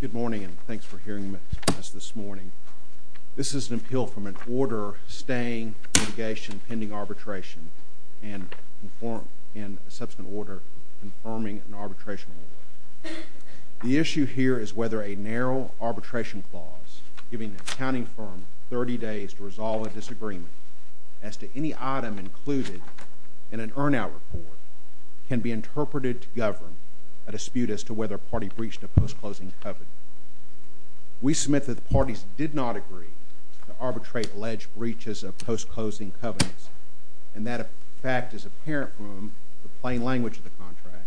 Good morning and thanks for hearing us this morning. This is an appeal from an order staying litigation pending arbitration and a subsequent order confirming an arbitration order. The issue here is whether a narrow arbitration clause giving an accounting firm 30 days to resolve a disagreement as to any item included in an earn-out report can be interpreted to govern a dispute as to whether a party breached a post-closing covenant. We submit that the parties did not agree to arbitrate alleged breaches of post-closing covenants. And that fact is apparent from the plain language of the contract,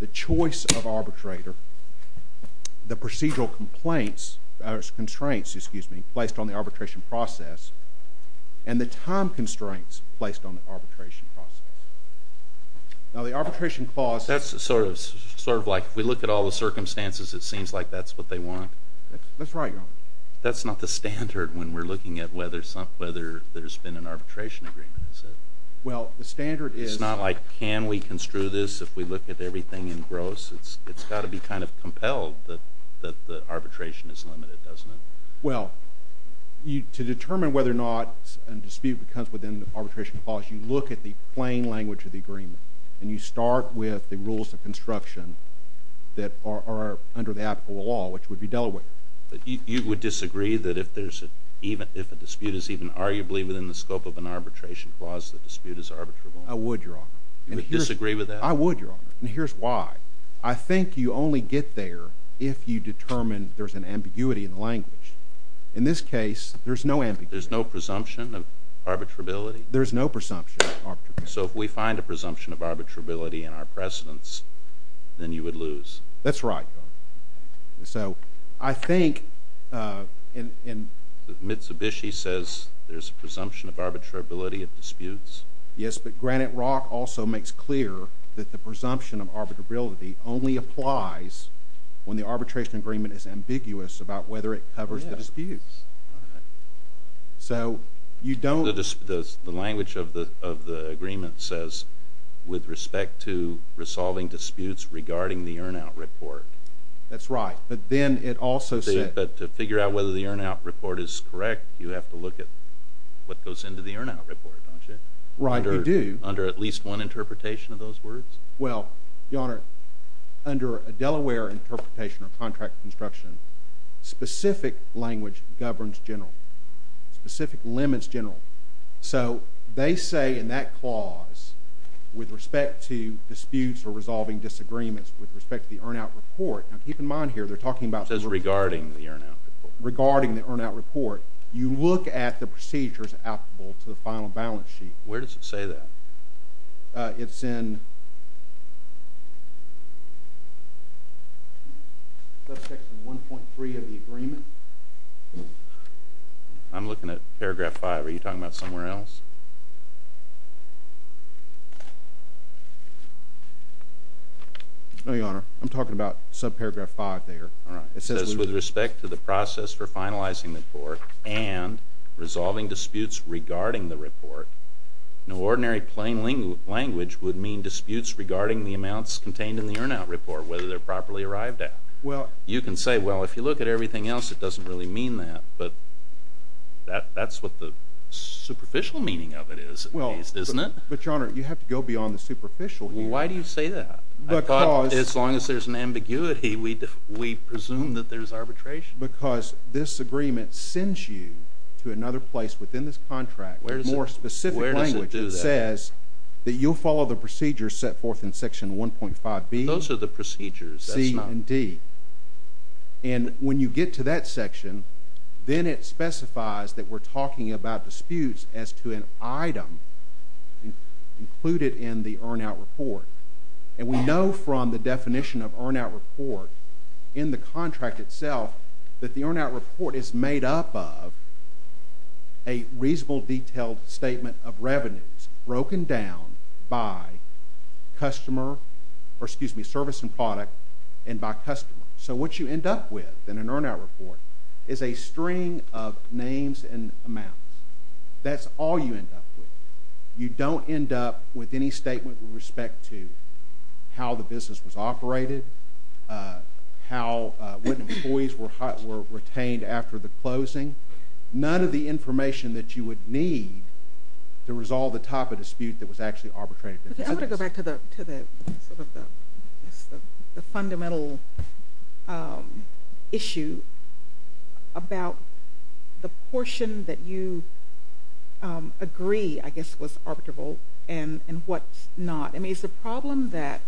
the choice of arbitrator, the procedural constraints placed on the arbitration process, and the time constraints placed on the arbitration process. Now the arbitration clause That's sort of like if we look at all the circumstances it seems like that's what they want. That's right, Your Honor. That's not the standard when we're looking at whether there's been an arbitration agreement, is it? Well, the standard is It's not like can we construe this if we look at everything in gross? It's got to be kind of compelled that the arbitration is limited, doesn't it? Well, to determine whether or not a dispute comes within the arbitration clause, you look at the plain language of the agreement. And you start with the rules of construction that are under the apical law, which would be Delaware. But you would disagree that if there's even If a dispute is even arguably within the scope of an arbitration clause, the dispute is arbitrable. I would, Your Honor. You would disagree with that? I would, Your Honor. And here's why. I think you only get there if you determine there's an ambiguity in the language. In this case, there's no ambiguity. There's no presumption of arbitrability? There's no presumption of arbitrability. So if we find a presumption of arbitrability in our precedents, then you would lose. That's right, Your Honor. So I think in Mitsubishi says there's a presumption of arbitrability of disputes. Yes, but Granite Rock also makes clear that the presumption of arbitrability only applies when the arbitration agreement is ambiguous about whether it covers the disputes. So you don't The language of the agreement says, with respect to resolving disputes regarding the earn out report. That's right. But then it also says But to figure out whether the earn out report is correct, you have to look at what goes into the earn out report, don't you? Right, we do. Under at least one interpretation of those words? Well, Your Honor, under a Delaware interpretation of contract construction, specific language governs general. Specific limits general. So they say in that clause, with respect to the earn out report, now keep in mind here, they're talking about It says regarding the earn out report. Regarding the earn out report, you look at the procedures applicable to the final balance sheet. Where does it say that? It's in section 1.3 of the agreement. I'm looking at paragraph 5. Are you talking about somewhere else? No, Your Honor. I'm talking about subparagraph 5 there. All right. It says With respect to the process for finalizing the report and resolving disputes regarding the report, in ordinary plain language would mean disputes regarding the amounts contained in the earn out report, whether they're properly arrived at. You can say, well, if you look at everything else, it doesn't really mean that. But that's what the superficial meaning of it is, at least, isn't it? But, Your Honor, you have to go beyond the superficial. Why do you say that? I thought, as long as there's an ambiguity, we presume that there's arbitration. Because this agreement sends you to another place within this contract with more specific language that says that you'll follow the procedures set forth in section 1.5B, C, and D. I realize that we're talking about disputes as to an item included in the earn out report. And we know from the definition of earn out report in the contract itself that the earn out report is made up of a reasonable detailed statement of revenues broken down by service and product and by customer. So what you end up with in an earn out report is a string of names and amounts. That's all you end up with. You don't end up with any statement with respect to how the business was operated, what employees were retained after the closing, none of the information that you would need to resolve the type of dispute that was actually arbitrated. I want to go back to the fundamental issue about the portion that you agree, I guess, was arbitrable and what's not. I mean, is the problem that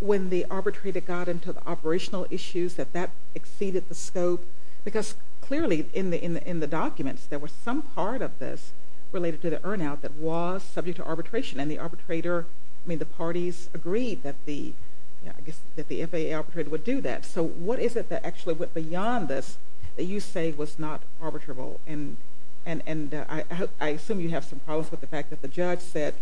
when the arbitrator got into the operational issues that that exceeded the scope? Because clearly in the documents, there was some part of this related to the earn out that was subject to arbitration, and the arbitrator – I mean, the parties agreed that the FAA arbitrator would do that. So what is it that actually went beyond this that you say was not arbitrable? And I assume you have some problems with the fact that the judge said,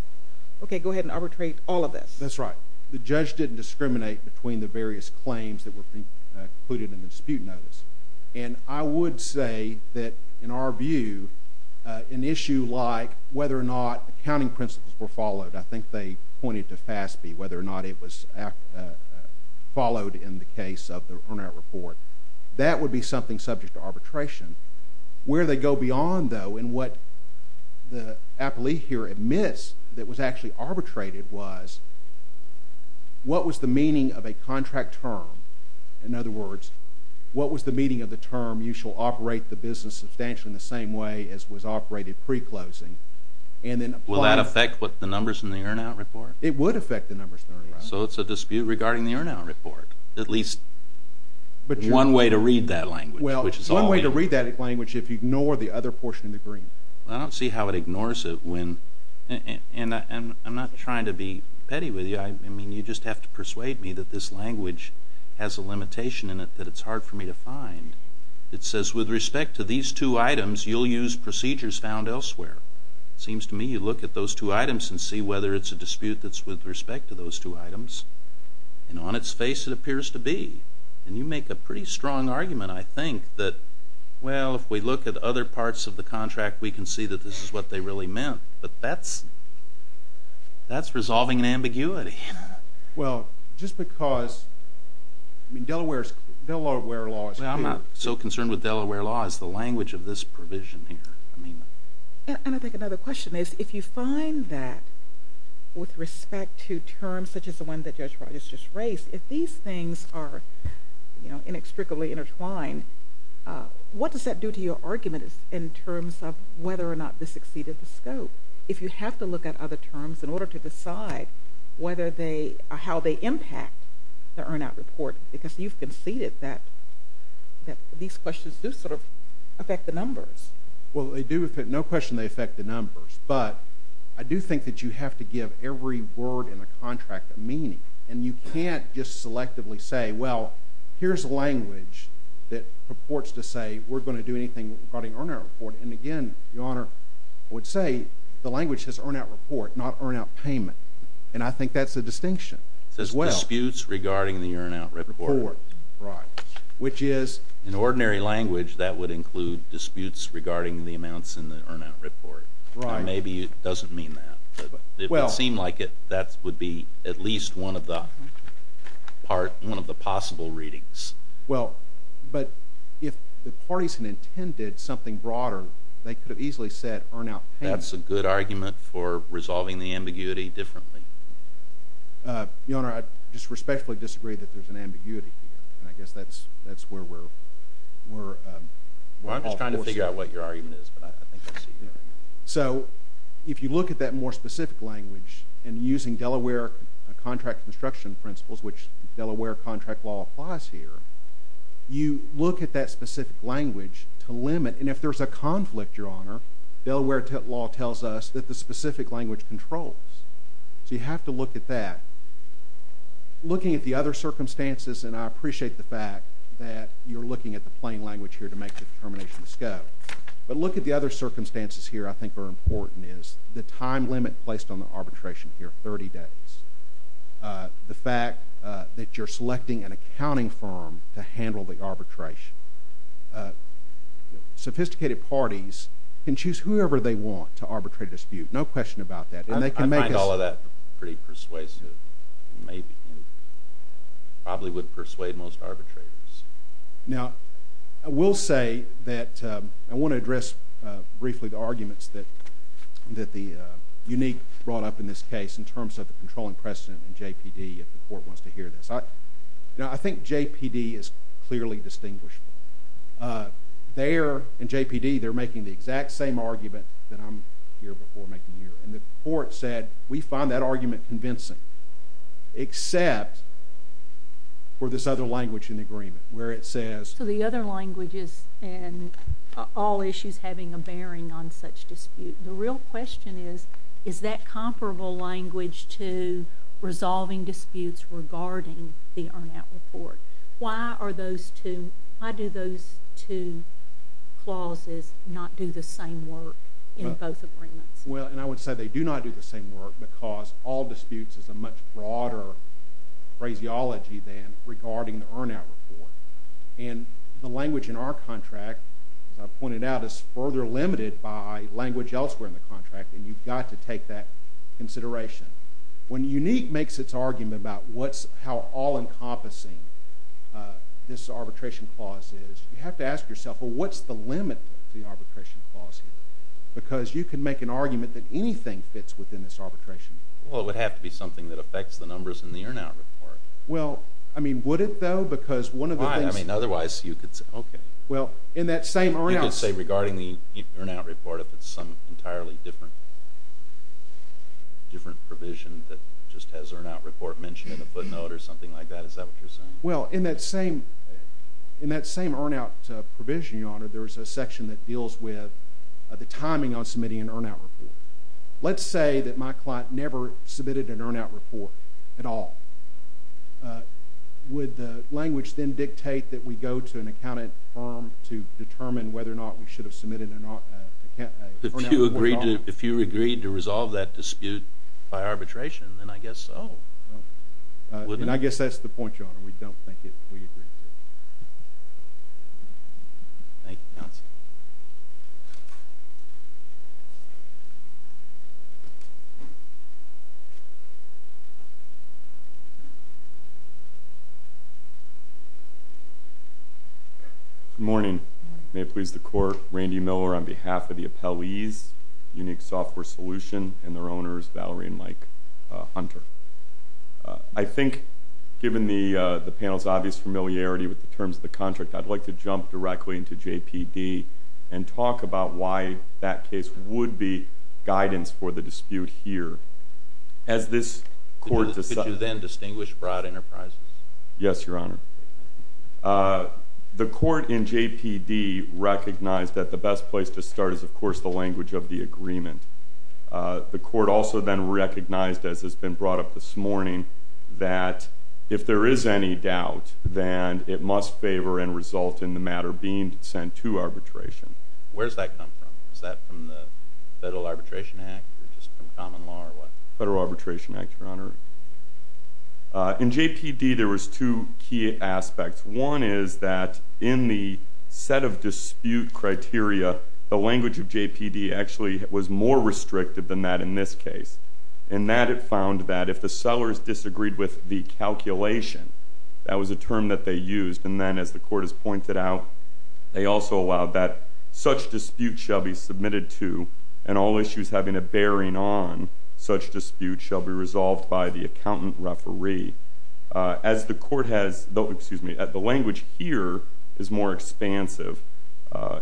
okay, go ahead and arbitrate all of this. That's right. The judge didn't discriminate between the various claims that were included in the dispute notice. And I would say that in our view, an issue like whether or not accounting principles were followed, I think they pointed to FASB, whether or not it was followed in the case of the earn out report. That would be something subject to arbitration. Where they go beyond, though, and what the appellee here admits that was actually arbitrated was what was the meaning of a contract term. In other words, what was the meaning of the term, you shall operate the business substantially in the same way as was operated pre-closing? And then apply – Will that affect what the numbers in the earn out report? It would affect the numbers in the earn out report. So it's a dispute regarding the earn out report. At least one way to read that language. Well, one way to read that language if you ignore the other portion of the green. I don't see how it ignores it when – and I'm not trying to be petty with you. I mean, you just have to persuade me that this language has a limitation in it that it's hard for me to find. It says, with respect to these two items, you'll use procedures found elsewhere. It seems to me you look at those two items and see whether it's a dispute that's with respect to those two items. And on its face it appears to be. And you make a pretty strong argument, I think, that, well, if we look at other parts of the contract, we can see that this is what they really meant. But that's resolving an ambiguity. Well, just because – I mean, Delaware's – Delaware law is clear. I'm not so concerned with Delaware law as the language of this provision here. And I think another question is, if you find that with respect to terms such as the one that Judge Rogers just raised, if these things are inextricably intertwined, what does that do to your argument in terms of whether or not this exceeded the scope? If you have to look at other terms in order to decide whether they – how they impact the earn-out report, because you've conceded that these questions do sort of affect the numbers. Well, they do affect – no question they do. But I do think that you have to give every word in the contract a meaning. And you can't just selectively say, well, here's a language that purports to say we're going to do anything regarding earn-out report. And, again, Your Honor, I would say the language says earn-out report, not earn-out payment. And I think that's a distinction as well. It says disputes regarding the earn-out report. Right. Which is? In ordinary language, that would include disputes regarding the amounts in the earn-out report. Right. And maybe it doesn't mean that. But it would seem like that would be at least one of the possible readings. Well, but if the parties had intended something broader, they could have easily said earn-out payment. That's a good argument for resolving the ambiguity differently. Your Honor, I just respectfully disagree that there's an ambiguity here. And I guess that's where we're – Well, I'm just trying to figure out what your argument is. But I think I see you. So if you look at that more specific language and using Delaware contract construction principles, which Delaware contract law applies here, you look at that specific language to limit. And if there's a conflict, Your Honor, Delaware law tells us that the specific language controls. So you have to look at that. Looking at the other circumstances – and I appreciate the fact that you're looking at the plain language here to make the determinations go. But look at the other circumstances here I think are important is the time limit placed on the arbitration here, 30 days. The fact that you're selecting an accounting firm to handle the arbitration. Sophisticated parties can choose whoever they want to arbitrate a dispute. No question about that. And they can make us – I find all of that pretty persuasive. Maybe. Probably would persuade most arbitrators. Now, I will say that I want to address briefly the arguments that the unique brought up in this case in terms of the controlling precedent in JPD if the court wants to hear this. Now, I think JPD is clearly distinguishable. There in JPD they're making the exact same argument that I'm here before making here. And the court said we find that argument convincing except for this other language in the agreement where it says – So the other language is in all issues having a bearing on such dispute. The real question is, is that comparable language to resolving disputes regarding the earn-out report? Why are those two – why do those two clauses not do the same work in both agreements? Well, and I would say they do not do the same work because all disputes is a much broader phraseology than regarding the earn-out report. And the language in our contract, as I pointed out, is further limited by language elsewhere in the contract. And you've got to take that this arbitration clause is. You have to ask yourself, well, what's the limit to the arbitration clause here? Because you can make an argument that anything fits within this arbitration. Well, it would have to be something that affects the numbers in the earn-out report. Well, I mean, would it though? Because one of the things – Why? I mean, otherwise you could say – Okay. Well, in that same – You could say regarding the earn-out report if it's some entirely different provision that just has earn-out report mentioned in the footnote or something like that. Is that what you're saying? Well, in that same – in that same earn-out provision, Your Honor, there is a section that deals with the timing on submitting an earn-out report. Let's say that my client never submitted an earn-out report at all. Would the language then dictate that we go to an accountant firm to determine whether or not we should have submitted an earn-out report at all? Well, if you agreed to resolve that dispute by arbitration, then I guess so. And I guess that's the point, Your Honor. We don't think we agree to it. Thank you, counsel. Good morning. May it please the Court, Randy Miller on behalf of the Appellee's Unique Software Solution and their owners, Valerie and Mike Hunter. I think given the panel's obvious familiarity with the terms of the contract, I'd like to jump directly into JPD and talk about why that case would be guidance for the dispute here. Could you then distinguish broad enterprises? Yes, Your Honor. The Court in JPD recognized that the best place to start is, of course, the language of the agreement. The Court also then recognized, as has been brought up this must favor and result in the matter being sent to arbitration. Where does that come from? Is that from the Federal Arbitration Act or just from common law? Federal Arbitration Act, Your Honor. In JPD, there were two key aspects. One is that in the set of dispute criteria, the language of JPD actually was more restrictive than that in this case. In that, it found that if the sellers disagreed with the calculation, that was a term that they used. And then, as the Court has pointed out, they also allowed that such dispute shall be submitted to and all issues having a bearing on such dispute shall be resolved by the accountant referee. As the Court has, excuse me, the language here is more expansive.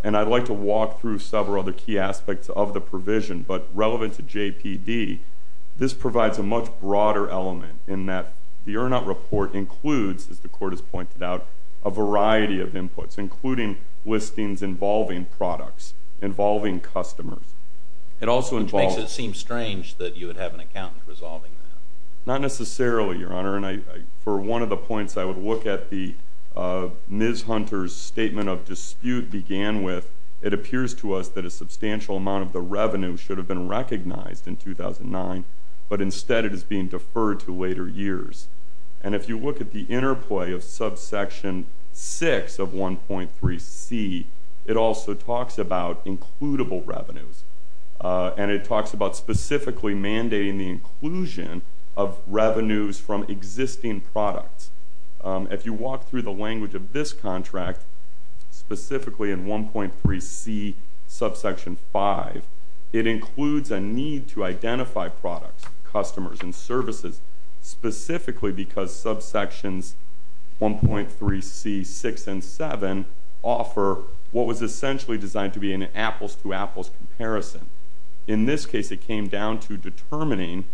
And I'd like to walk through several other key aspects of the provision. But relevant to JPD, this provides a much broader element in that the Urnot report includes, as the Court has pointed out, a variety of inputs, including listings involving products, involving customers. It also makes it seem strange that you would have an accountant resolving that. Not necessarily, Your Honor. And for one of the points, I would look at the Ms. Hunter's point about dispute began with, it appears to us that a substantial amount of the revenue should have been recognized in 2009. But instead, it is being deferred to later years. And if you look at the interplay of subsection 6 of 1.3c, it also talks about includable revenues. And it talks about specifically mandating the inclusion of revenues from existing products. If you walk through the language of this contract, specifically in 1.3c subsection 5, it includes a need to identify products, customers, and services specifically because subsections 1.3c, 6, and 7 offer what was essentially designed to be an apples-to-apples comparison. In this case, it came down to determining,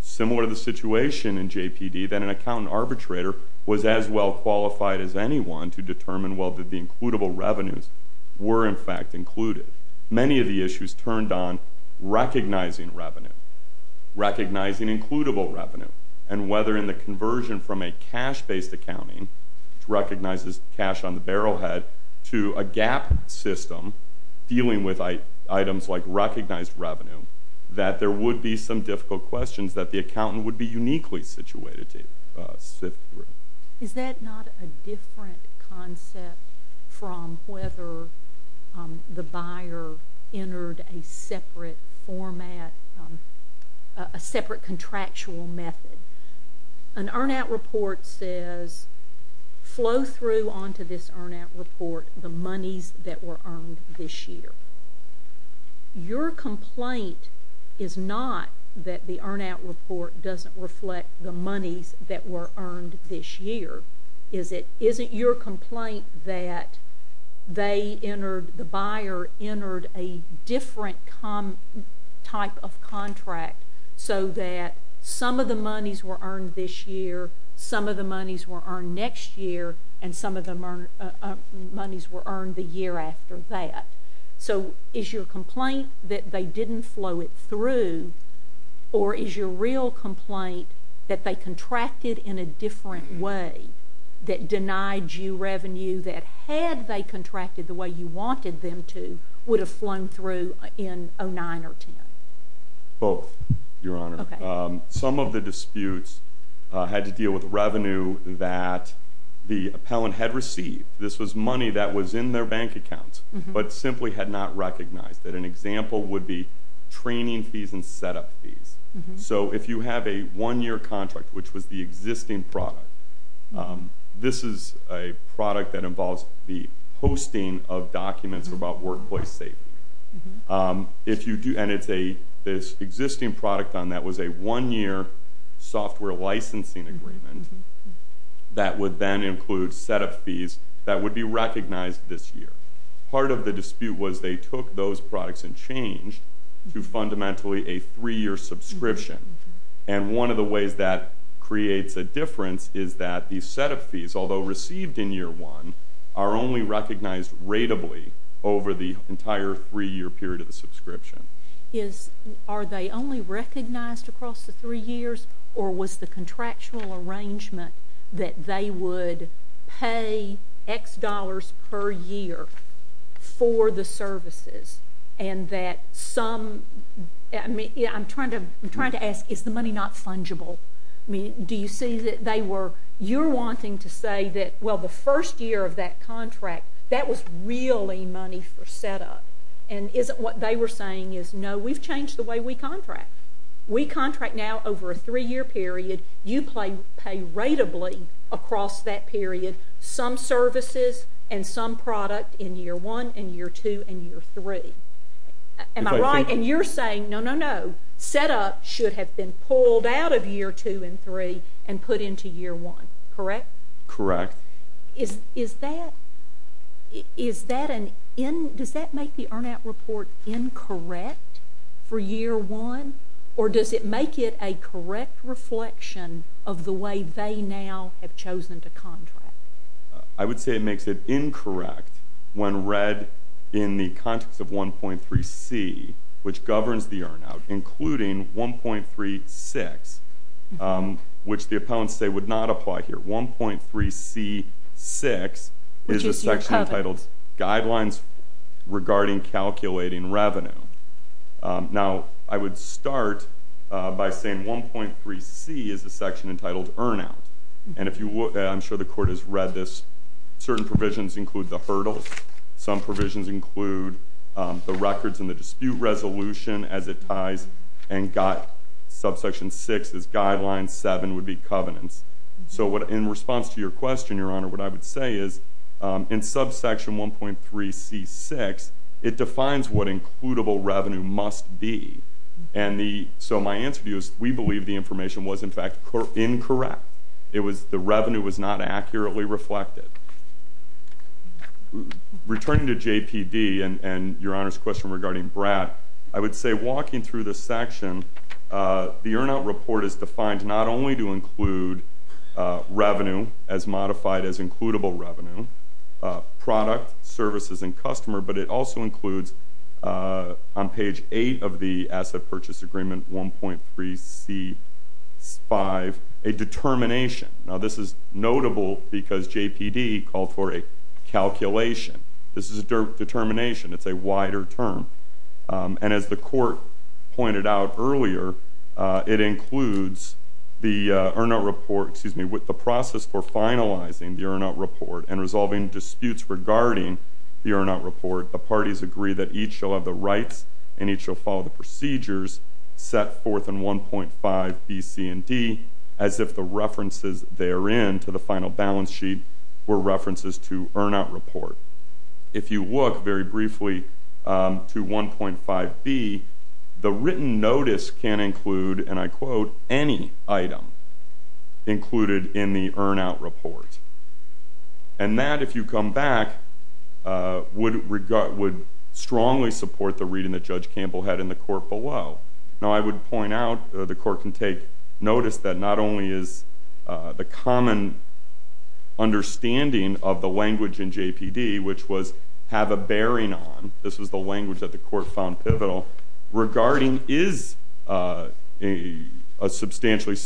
similar to the situation in JPD, that an accountant arbitrator was as well qualified as anyone to determine, well, did the includable revenues were, in fact, included? Many of the issues turned on recognizing revenue, recognizing includable revenue, and whether in the conversion from a cash-based accounting, which recognizes cash on the barrel head, to a GAAP system dealing with items like recognized revenue, that there would be some difficult questions that the accountant would be uniquely situated to sift through. Is that not a different concept from whether the buyer entered a separate format, a separate contractual method? An earn-out report says, flow through onto this earn-out report the monies that were earned this year. Your complaint is not that the earn-out report doesn't reflect the monies that were earned this year. Is it your complaint that the buyer entered a different type of contract so that some of the monies were earned this year, some of the monies were earned next year, and some of the monies were earned the year after that? Is your complaint that they didn't flow it through, or is your real complaint that they contracted in a different way that denied you revenue that, had they contracted the way you wanted them to, would have flown through in 2009 or 2010? Both, Your Honor. Some of the disputes had to deal with revenue that the appellant had received. This was money that was in their bank account, but simply had not recognized. An example would be training fees and set-up fees. So if you have a one-year contract, which was the existing product, this is a product that involves the hosting of documents about workplace safety. And this existing product on that was a one-year software licensing agreement that would then include set-up fees that would be recognized this year. Part of the dispute was they took those products and changed to fundamentally a three-year subscription. And one of the ways that creates a difference is that these set-up fees, although received in year one, are only recognized ratably over the entire three-year period of the subscription. Are they only recognized across the three years, or was the contractual arrangement that they would pay X dollars per year for the services? I'm trying to ask, is the money not fungible? You're wanting to say that, well, the first year of that contract, that was really money for set-up. And is it what they were saying is, no, we've changed the way we contract. We contract now over a three-year period. You pay ratably across that period some services and some product in year one and year two and year three. Am I right in your saying, no, no, no, set-up should have been pulled out of year two and three and put into year one, correct? Correct. Does that make the earn-out report incorrect for year one, or does it make it a correct reflection of the way they now have chosen to contract? I would say it makes it incorrect when read in the context of 1.3c, which governs the earn-out, including 1.3c6, which the opponents say would not apply here. 1.3c6 is a section entitled Guidelines Regarding Calculating Revenue. Now, I would start by saying 1.3c is a section entitled Earn-Out. I'm sure the Court has read this. Certain provisions include the hurdles. Some provisions include the records and the dispute resolution as it ties, and subsection 6 is Guidelines, 7 would be covenants. So in response to your question, Your Honor, what I would say is in subsection 1.3c6, it defines what includable revenue must be. So my answer to you is we believe the information was, in fact, incorrect. The revenue was not accurately reflected. Returning to JPD and Your Honor's question regarding BRAT, I would say walking through this section, the earn-out report is defined not only to include revenue as modified as includable revenue, product, services, and customer, but it also includes on page 8 of the Asset Purchase Agreement 1.3c5 a determination. Now, this is notable because JPD called for a calculation. This is a determination. It's a wider term. And as the Court pointed out earlier, it includes the earn-out report, excuse me, with the process for finalizing the earn-out report and resolving disputes regarding the earn-out report, the parties agree that each shall have the rights and each shall follow the procedures set forth in 1.5b, c, and d, as if the references therein to the final balance sheet were references to earn-out report. If you look very briefly to 1.5b, the written notice can include, and I quote, any item included in the earn-out report. And that, if you come back, would strongly support the reading that Judge Campbell had in the Court below. Now, I would point out the Court can take notice that not only is the common understanding of the language in JPD, which was have a bearing on, this was the language that the Court found pivotal, regarding is a substantially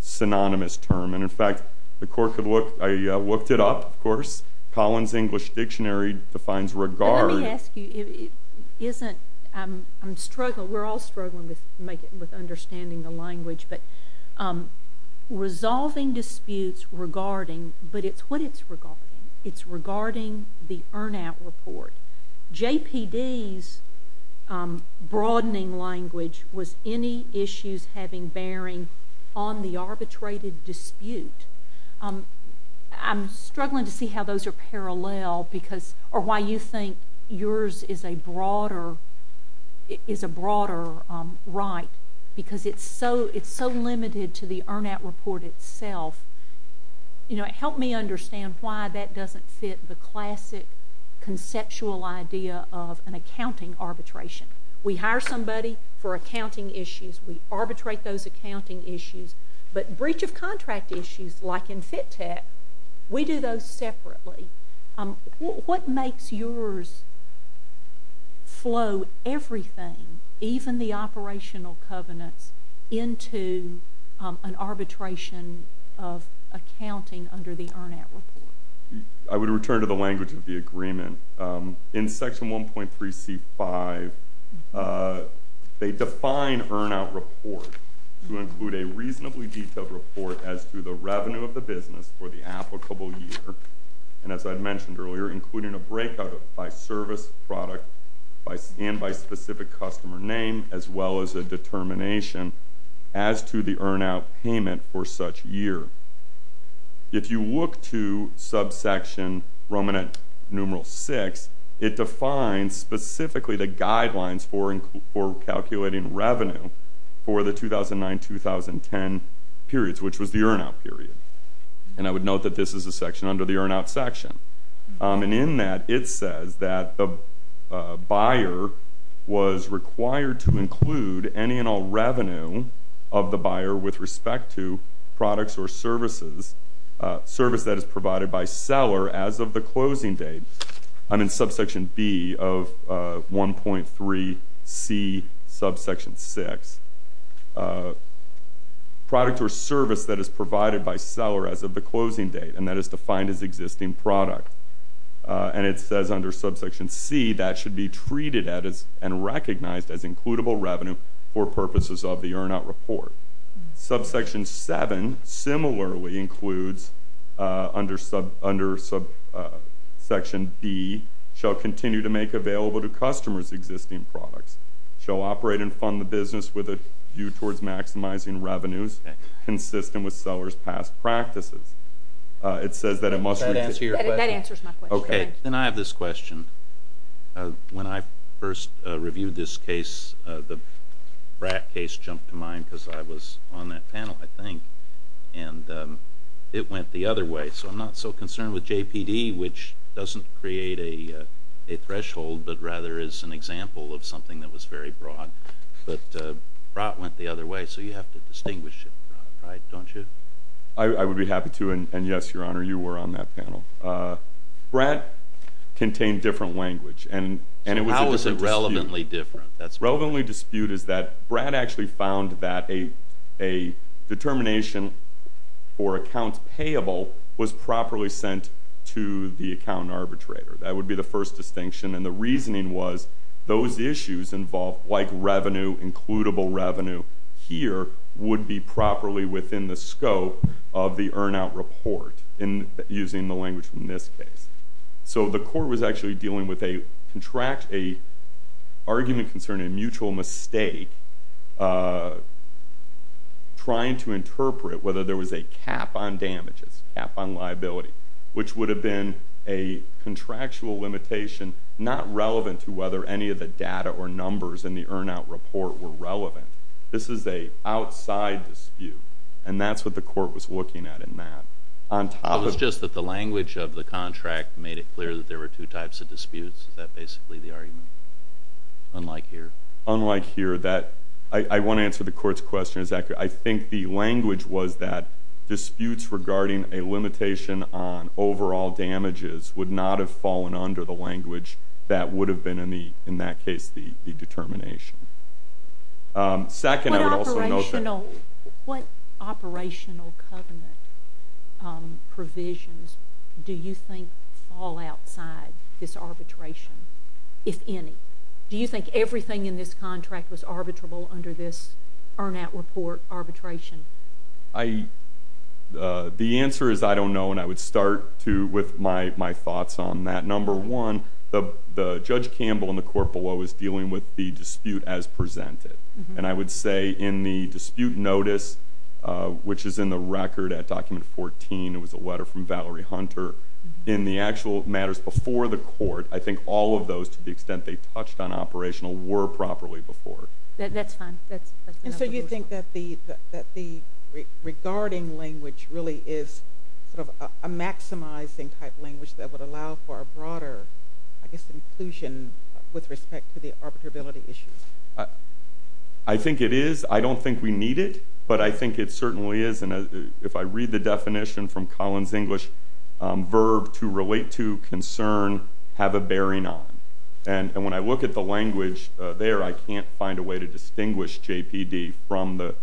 synonymous term. And, in fact, the Court could look, I looked it up, of course, Collins English Dictionary defines regard. Let me ask you, isn't, I'm struggling, we're all struggling with understanding the language, but resolving disputes regarding, but it's what it's regarding. It's regarding the earn-out report. JPD's broadening language was any issues having bearing on the arbitrated dispute. I'm struggling to see how those are parallel because, or why you think yours is a broader right because it's so limited to the earn-out report itself. You know, help me understand why that doesn't fit the classic conceptual idea of an accounting arbitration. We hire somebody for accounting issues. We arbitrate those accounting issues. But breach of contract issues, like in FITTECH, we do those separately. What makes yours flow everything, even the operational covenants, into an arbitration of accounting under the earn-out report? I would return to the language of the agreement. In Section 1.3c5, they define earn-out report to include a reasonably detailed report as to the revenue of the business for the applicable year, and as I mentioned earlier, including a breakout by service, product, and by specific customer name, as well as a determination as to the earn-out payment for such year. If you look to subsection ruminant numeral 6, it defines specifically the guidelines for calculating revenue for the 2009-2010 periods, which was the earn-out period. And I would note that this is a section under the earn-out section. And in that, it says that the buyer was required to include any and all revenue of the buyer with respect to products or services, service that is provided by seller as of the closing date. I'm in subsection b of 1.3c subsection 6. Product or service that is provided by seller as of the closing date, and that is defined as existing product. And it says under subsection c, that should be treated and recognized as includable revenue for purposes of the earn-out report. Subsection 7 similarly includes under subsection b, shall continue to make available to customers existing products, shall operate and fund the business with a view towards maximizing revenues consistent with seller's past practices. That answers my question. Okay. Then I have this question. When I first reviewed this case, the BRAC case jumped to mind because I was on that panel, I think, and it went the other way. So I'm not so concerned with JPD, which doesn't create a threshold, but rather is an example of something that was very broad. But BRAC went the other way, so you have to distinguish it, right, don't you? I would be happy to, and, yes, Your Honor, you were on that panel. BRAC contained different language, and it was a dispute. So how is it relevantly different? A relevantly dispute is that BRAC actually found that a determination for accounts payable was properly sent to the account arbitrator. That would be the first distinction. And the reasoning was those issues involved, like revenue, includable revenue here would be properly within the scope of the earn-out report, using the language from this case. So the court was actually dealing with an argument concerning a mutual mistake, trying to interpret whether there was a cap on damages, cap on liability, which would have been a contractual limitation not relevant to whether any of the data or numbers in the earn-out report were relevant. This is an outside dispute, and that's what the court was looking at in that. It was just that the language of the contract made it clear that there were two types of disputes. Is that basically the argument, unlike here? Unlike here. I want to answer the court's question. I think the language was that disputes regarding a limitation on overall damages would not have fallen under the language that would have been, in that case, the determination. What operational covenant provisions do you think fall outside this arbitration, if any? Do you think everything in this contract was arbitrable under this earn-out report arbitration? The answer is I don't know, and I would start with my thoughts on that. Number one, Judge Campbell and the court below is dealing with the dispute as presented, and I would say in the dispute notice, which is in the record at Document 14, it was a letter from Valerie Hunter, in the actual matters before the court, I think all of those, to the extent they touched on operational, were properly before. That's fine. And so you think that the regarding language really is sort of a maximizing type language that would allow for a broader, I guess, inclusion with respect to the arbitrability issues? I think it is. I don't think we need it, but I think it certainly is. If I read the definition from Collin's English, verb, to relate to, concern, have a bearing on. And when I look at the language there, I can't find a way to distinguish JPD from the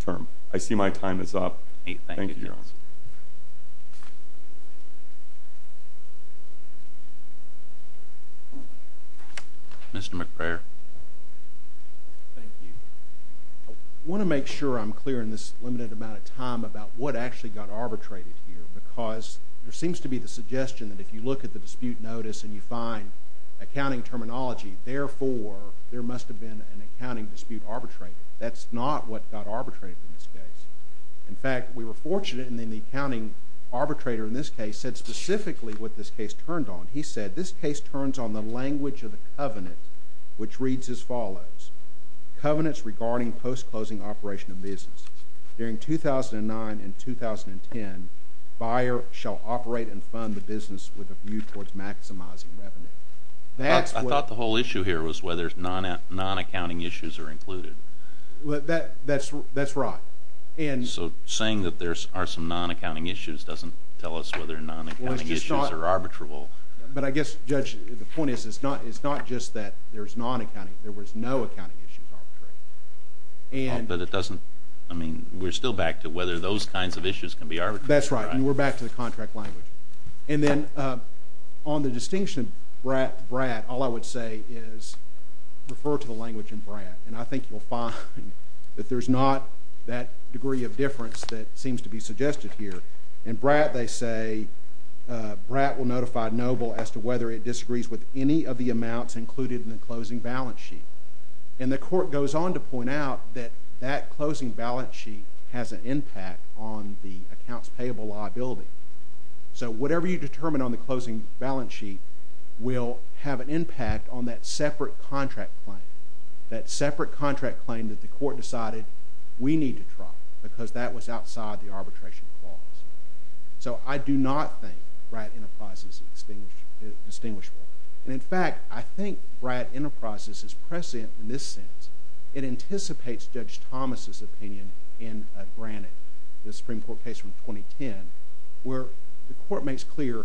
term. I see my time is up. Thank you, Your Honor. Mr. McBrayer. Thank you. I want to make sure I'm clear in this limited amount of time about what actually got arbitrated here, because there seems to be the suggestion that if you look at the dispute notice and you find accounting terminology, therefore there must have been an accounting dispute arbitrated. That's not what got arbitrated in this case. In fact, we were fortunate, and then the accounting arbitrator in this case said specifically what this case turned on. He said this case turns on the language of the covenant, which reads as follows. Covenants regarding post-closing operation of business. During 2009 and 2010, buyer shall operate and fund the business with a view towards maximizing revenue. I thought the whole issue here was whether non-accounting issues are included. That's right. So saying that there are some non-accounting issues doesn't tell us whether non-accounting issues are arbitrable. But I guess, Judge, the point is it's not just that there's non-accounting. There was no accounting issues arbitrated. But it doesn't, I mean, we're still back to whether those kinds of issues can be arbitrated. That's right, and we're back to the contract language. And then on the distinction, BRAT, all I would say is refer to the language in BRAT, and I think you'll find that there's not that degree of difference that seems to be suggested here. In BRAT, they say BRAT will notify Noble as to whether it disagrees with any of the amounts included in the closing balance sheet. And the court goes on to point out that that closing balance sheet has an impact on the accounts payable liability. So whatever you determine on the closing balance sheet will have an impact on that separate contract claim, that separate contract claim that the court decided we need to drop because that was outside the arbitration clause. So I do not think BRAT Enterprises is distinguishable. And in fact, I think BRAT Enterprises is prescient in this sense. It anticipates Judge Thomas' opinion in Granite, the Supreme Court case from 2010, where the court makes clear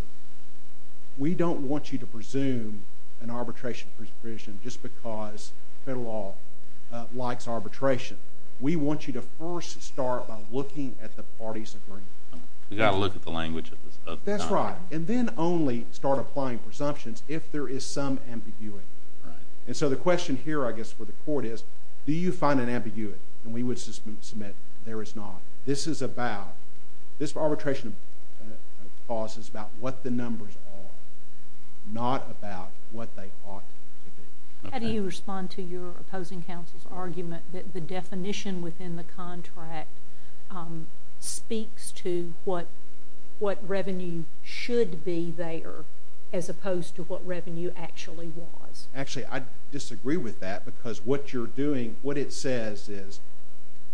we don't want you to presume an arbitration provision just because federal law likes arbitration. We want you to first start by looking at the party's agreement. We've got to look at the language of the time. That's right, and then only start applying presumptions if there is some ambiguity. And so the question here, I guess, for the court is do you find an ambiguity? And we would submit there is not. This arbitration clause is about what the numbers are, not about what they ought to be. How do you respond to your opposing counsel's argument that the definition within the contract speaks to what revenue should be there as opposed to what revenue actually was? Actually, I disagree with that because what you're doing, what it says is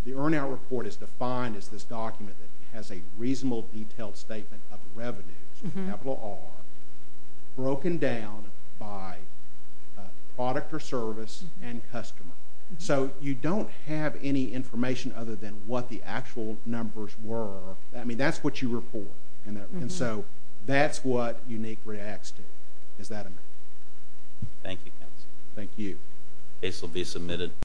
the earn-out report is defined as this document that has a reasonable detailed statement of revenues, capital R, broken down by product or service and customer. So you don't have any information other than what the actual numbers were. I mean, that's what you report. And so that's what UNIQ reacts to. Is that amended? Thank you, counsel. Thank you. This will be submitted.